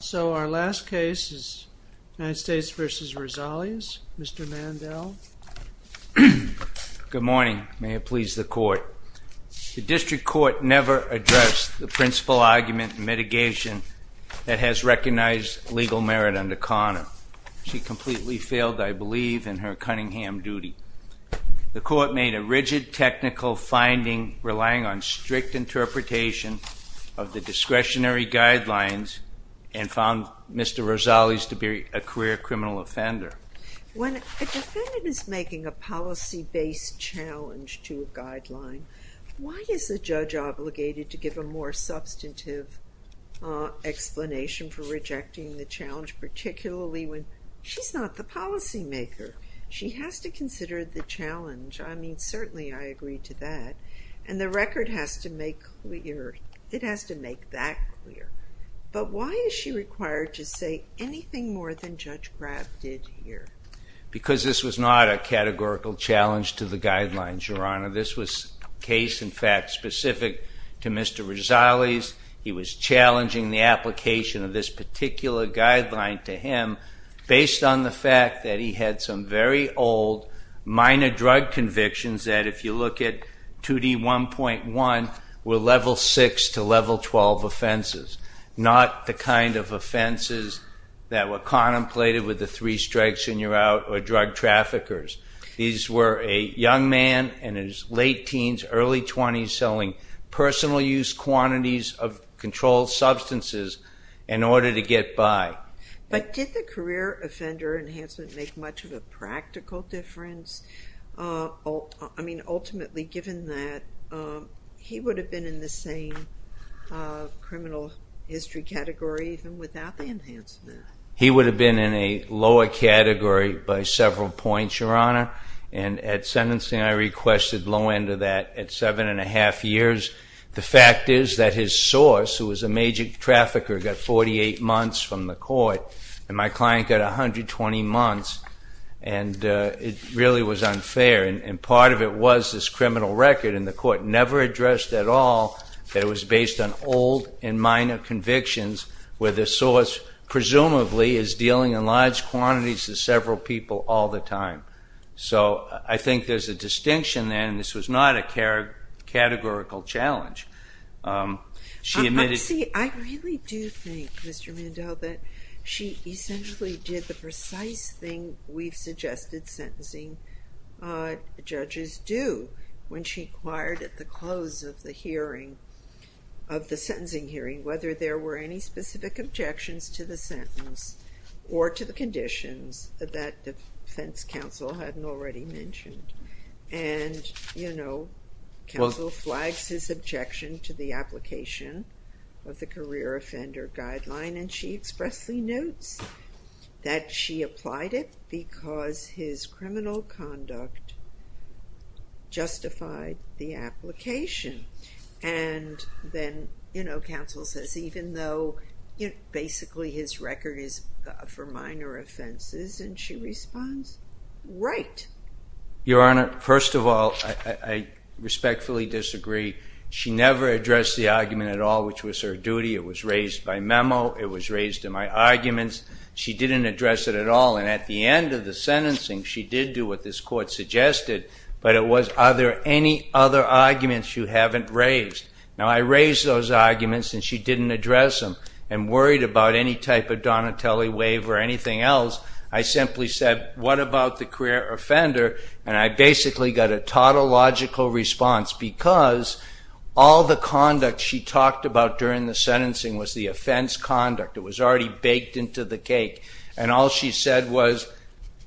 So our last case is United States v. Rosales. Mr. Mandel. Good morning. May it please the court. The district court never addressed the principal argument in mitigation that has recognized legal merit under Connor. She completely failed, I believe, in her Cunningham duty. The court made a rigid technical finding relying on strict interpretation of the discretionary guidelines and found Mr. Rosales to be a career criminal offender. When a defendant is making a policy-based challenge to a guideline, why is the judge obligated to give a more substantive explanation for rejecting the challenge, particularly when she's not the policymaker? She has to consider the challenge. I mean, certainly I agree to that. And the record has to make clear, it has to make that clear. But why is she required to say anything more than Judge Graf did here? Because this was not a categorical challenge to the guidelines, Your Honor. This was a case, in fact, specific to Mr. Rosales. He was challenging the application of this particular guideline to him based on the fact that he had some very old minor drug convictions that, if you look at 2D1.1, were level 6 to level 12 offenses, not the kind of offenses that were contemplated with the three strikes and you're out or drug traffickers. These were a young man in his late teens, early 20s, selling personal use quantities of controlled substances in order to get by. But did the career offender enhancement make much of a practical difference? I mean, ultimately, given that he would have been in the same criminal history category even without the enhancement. He would have been in a lower category by several points, Your Honor. And at sentencing, I requested low end of that at seven and a half years. The fact is that his source, who was a major trafficker, got 48 months from the court, and my client got 120 months, and it really was unfair. And part of it was this criminal record, and the court never addressed at all that it was based on old and minor convictions, where the source presumably is dealing in large quantities to several people all the time. So I think there's a distinction there, and this was not a categorical challenge. See, I really do think, Mr. Mandel, that she essentially did the precise thing we've suggested sentencing judges do when she inquired at the close of the hearing, of the sentencing hearing, or to the conditions that the defense counsel hadn't already mentioned. And, you know, counsel flags his objection to the application of the career offender guideline, and she expressly notes that she applied it because his criminal conduct justified the application. And then, you know, counsel says, even though basically his record is for minor offenses, and she responds, right. Your Honor, first of all, I respectfully disagree. She never addressed the argument at all, which was her duty. It was raised by memo. It was raised in my arguments. She didn't address it at all, and at the end of the sentencing, she did do what this court suggested, but it was, are there any other arguments you haven't raised? Now, I raised those arguments, and she didn't address them, and worried about any type of Donatelli waiver or anything else. I simply said, what about the career offender? And I basically got a tautological response, because all the conduct she talked about during the sentencing was the offense conduct. It was already baked into the cake, and all she said was,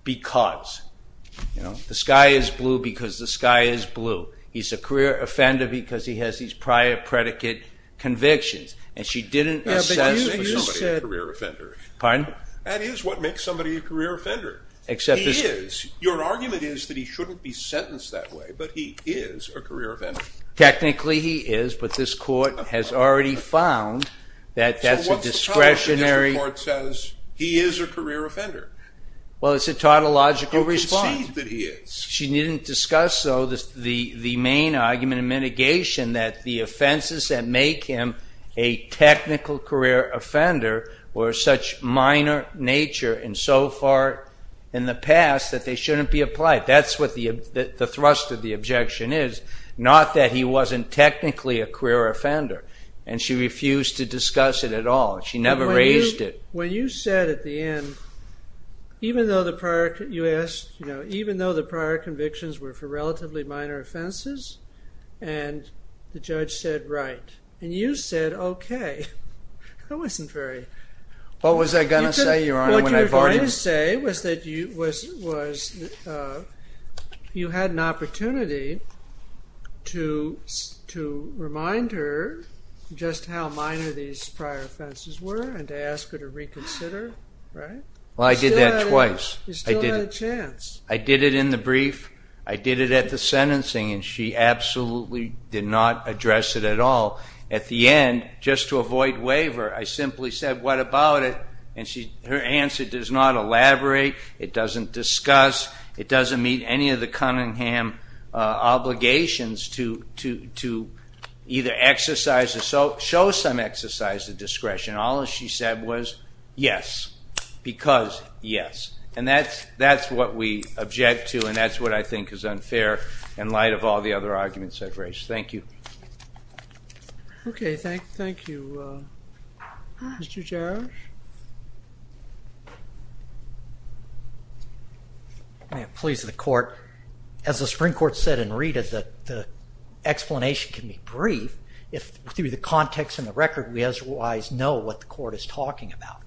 because. The sky is blue because the sky is blue. He's a career offender because he has these prior predicate convictions, and she didn't assess for somebody a career offender. Pardon? That is what makes somebody a career offender. He is. Your argument is that he shouldn't be sentenced that way, but he is a career offender. Technically, he is, but this court has already found that that's a discretionary. So what's the problem if the court says he is a career offender? Well, it's a tautological response. You concede that he is. She didn't discuss, though, the main argument in mitigation, that the offenses that make him a technical career offender were of such minor nature and so far in the past that they shouldn't be applied. That's what the thrust of the objection is, not that he wasn't technically a career offender, and she refused to discuss it at all. She never raised it. When you said at the end, even though the prior convictions were for relatively minor offenses and the judge said right, and you said okay, that wasn't very... What was I going to say, Your Honor, when I barred him? What you were going to say was that you had an opportunity to remind her just how minor these prior offenses were and to ask her to reconsider, right? Well, I did that twice. You still had a chance. I did it in the brief. I did it at the sentencing, and she absolutely did not address it at all. At the end, just to avoid waiver, I simply said what about it, and her answer does not elaborate. It doesn't discuss. It doesn't meet any of the Cunningham obligations to either exercise or show some exercise of discretion. All she said was yes, because yes. And that's what we object to, and that's what I think is unfair in light of all the other arguments I've raised. Thank you. Okay. Thank you, Mr. Jarosz. May it please the Court. As the Supreme Court said in Rita, the explanation can be brief if through the context and the record we otherwise know what the Court is talking about.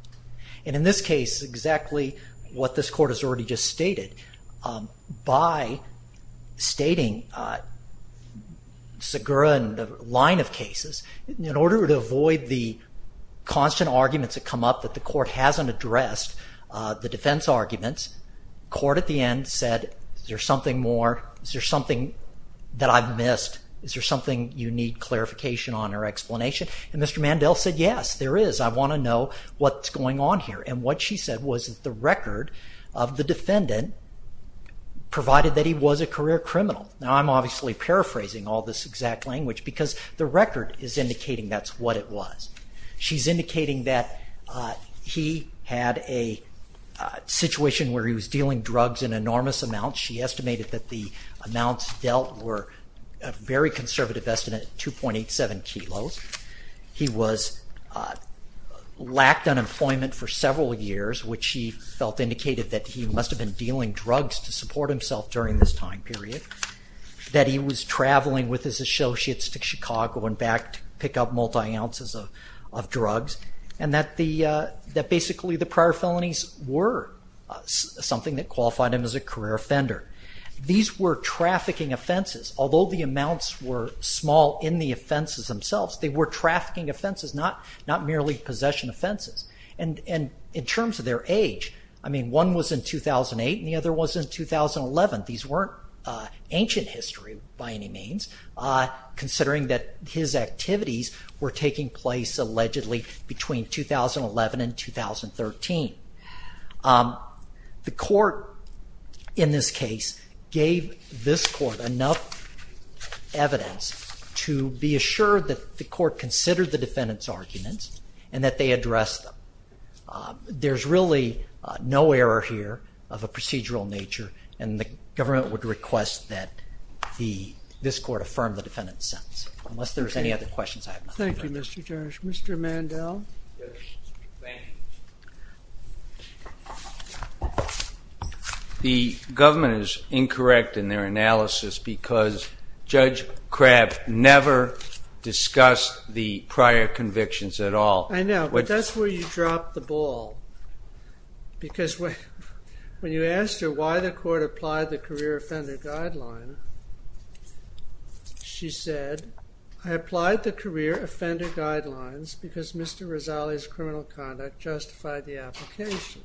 And in this case, exactly what this Court has already just stated, by stating Segura and the line of cases, in order to avoid the constant arguments that come up that the Court hasn't addressed, the defense arguments, the Court at the end said, is there something more? Is there something that I've missed? Is there something you need clarification on or explanation? And Mr. Mandel said, yes, there is. I want to know what's going on here. And what she said was that the record of the defendant, provided that he was a career criminal. Now, I'm obviously paraphrasing all this exact language, because the record is indicating that's what it was. She's indicating that he had a situation where he was dealing drugs in enormous amounts. She estimated that the amounts dealt were a very conservative estimate, 2.87 kilos. He lacked unemployment for several years, which she felt indicated that he must have been dealing drugs to support himself during this time period. That he was traveling with his associates to Chicago and back to pick up multi-ounces of drugs. And that basically the prior felonies were something that qualified him as a career offender. These were trafficking offenses. Although the amounts were small in the offenses themselves, they were trafficking offenses, not merely possession offenses. And in terms of their age, I mean, one was in 2008, and the other was in 2011. These weren't ancient history by any means, considering that his activities were taking place allegedly between 2011 and 2013. The court in this case gave this court enough evidence to be assured that the court considered the defendant's arguments and that they addressed them. There's really no error here of a procedural nature, and the government would request that this court affirm the defendant's sentence. Unless there's any other questions, I have nothing to add. Thank you, Mr. Judge. Mr. Mandel? Yes, thank you. The government is incorrect in their analysis because Judge Crabb never discussed the prior convictions at all. I know, but that's where you drop the ball. Because when you asked her why the court applied the career offender guideline, she said, I applied the career offender guidelines because Mr. Rosali's criminal conduct justified the application.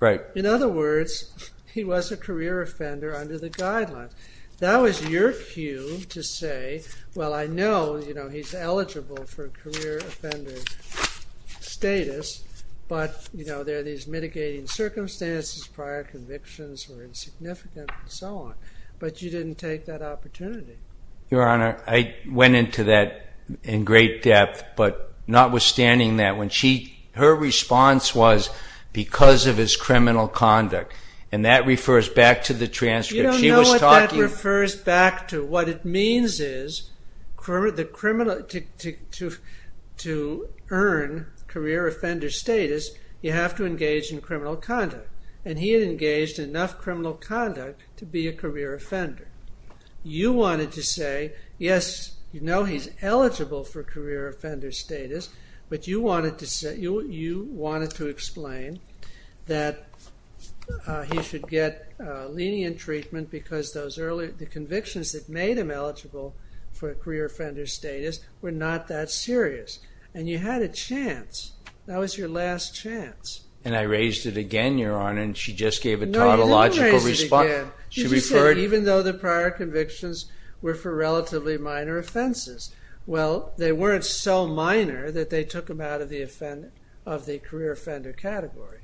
Right. In other words, he was a career offender under the guideline. That was your cue to say, well, I know he's eligible for career offender status, but there are these mitigating circumstances, prior convictions were insignificant, and so on. But you didn't take that opportunity. Your Honor, I went into that in great depth, but notwithstanding that, her response was because of his criminal conduct. And that refers back to the transcript. You don't know what that refers back to. What it means is, to earn career offender status, you have to engage in criminal conduct. And he had engaged in enough criminal conduct to be a career offender. You wanted to say, yes, you know he's eligible for career offender status, but you wanted to explain that he should get lenient treatment because the convictions that made him eligible for career offender status were not that serious. And you had a chance. That was your last chance. And I raised it again, Your Honor, and she just gave a tautological response. No, you didn't raise it again. Did you say even though the prior convictions were for relatively minor offenses? Well, they weren't so minor that they took him out of the career offender category.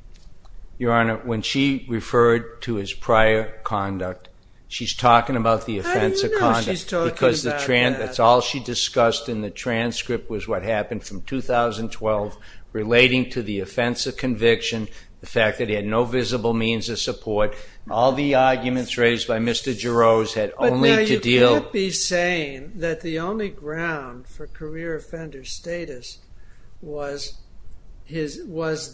Your Honor, when she referred to his prior conduct, she's talking about the offense of conduct. How do you know she's talking about that? Because that's all she discussed in the transcript was what happened from 2012, relating to the offense of conviction, the fact that he had no visible means of support. All the arguments raised by Mr. Jarosz had only to deal... was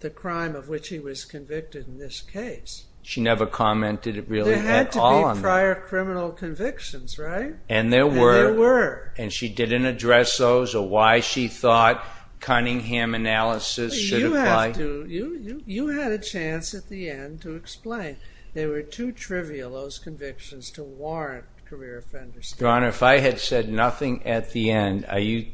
the crime of which he was convicted in this case. She never commented really at all on that. There had to be prior criminal convictions, right? And there were. And there were. And she didn't address those or why she thought Cunningham analysis should apply? You had a chance at the end to explain. They were too trivial, those convictions, to warrant career offender status. Your Honor, if I had said nothing at the end, are you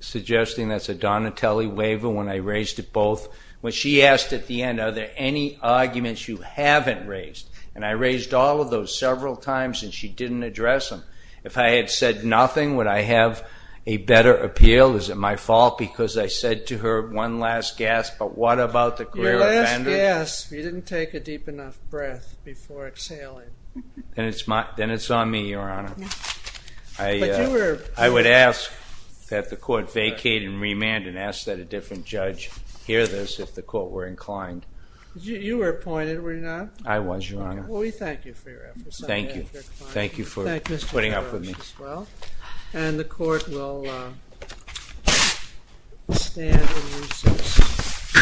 suggesting that's a Donatelli waiver when I raised it both? When she asked at the end, are there any arguments you haven't raised? And I raised all of those several times and she didn't address them. If I had said nothing, would I have a better appeal? Is it my fault because I said to her one last gasp, but what about the career offender? Your last gasp. You didn't take a deep enough breath before exhaling. Then it's on me, Your Honor. But you were... I would ask that the court vacate and remand and ask that a different judge hear this if the court were inclined. You were appointed, were you not? I was, Your Honor. Well, we thank you for your efforts. Thank you. Thank you for putting up with me. And the court will stand in recess.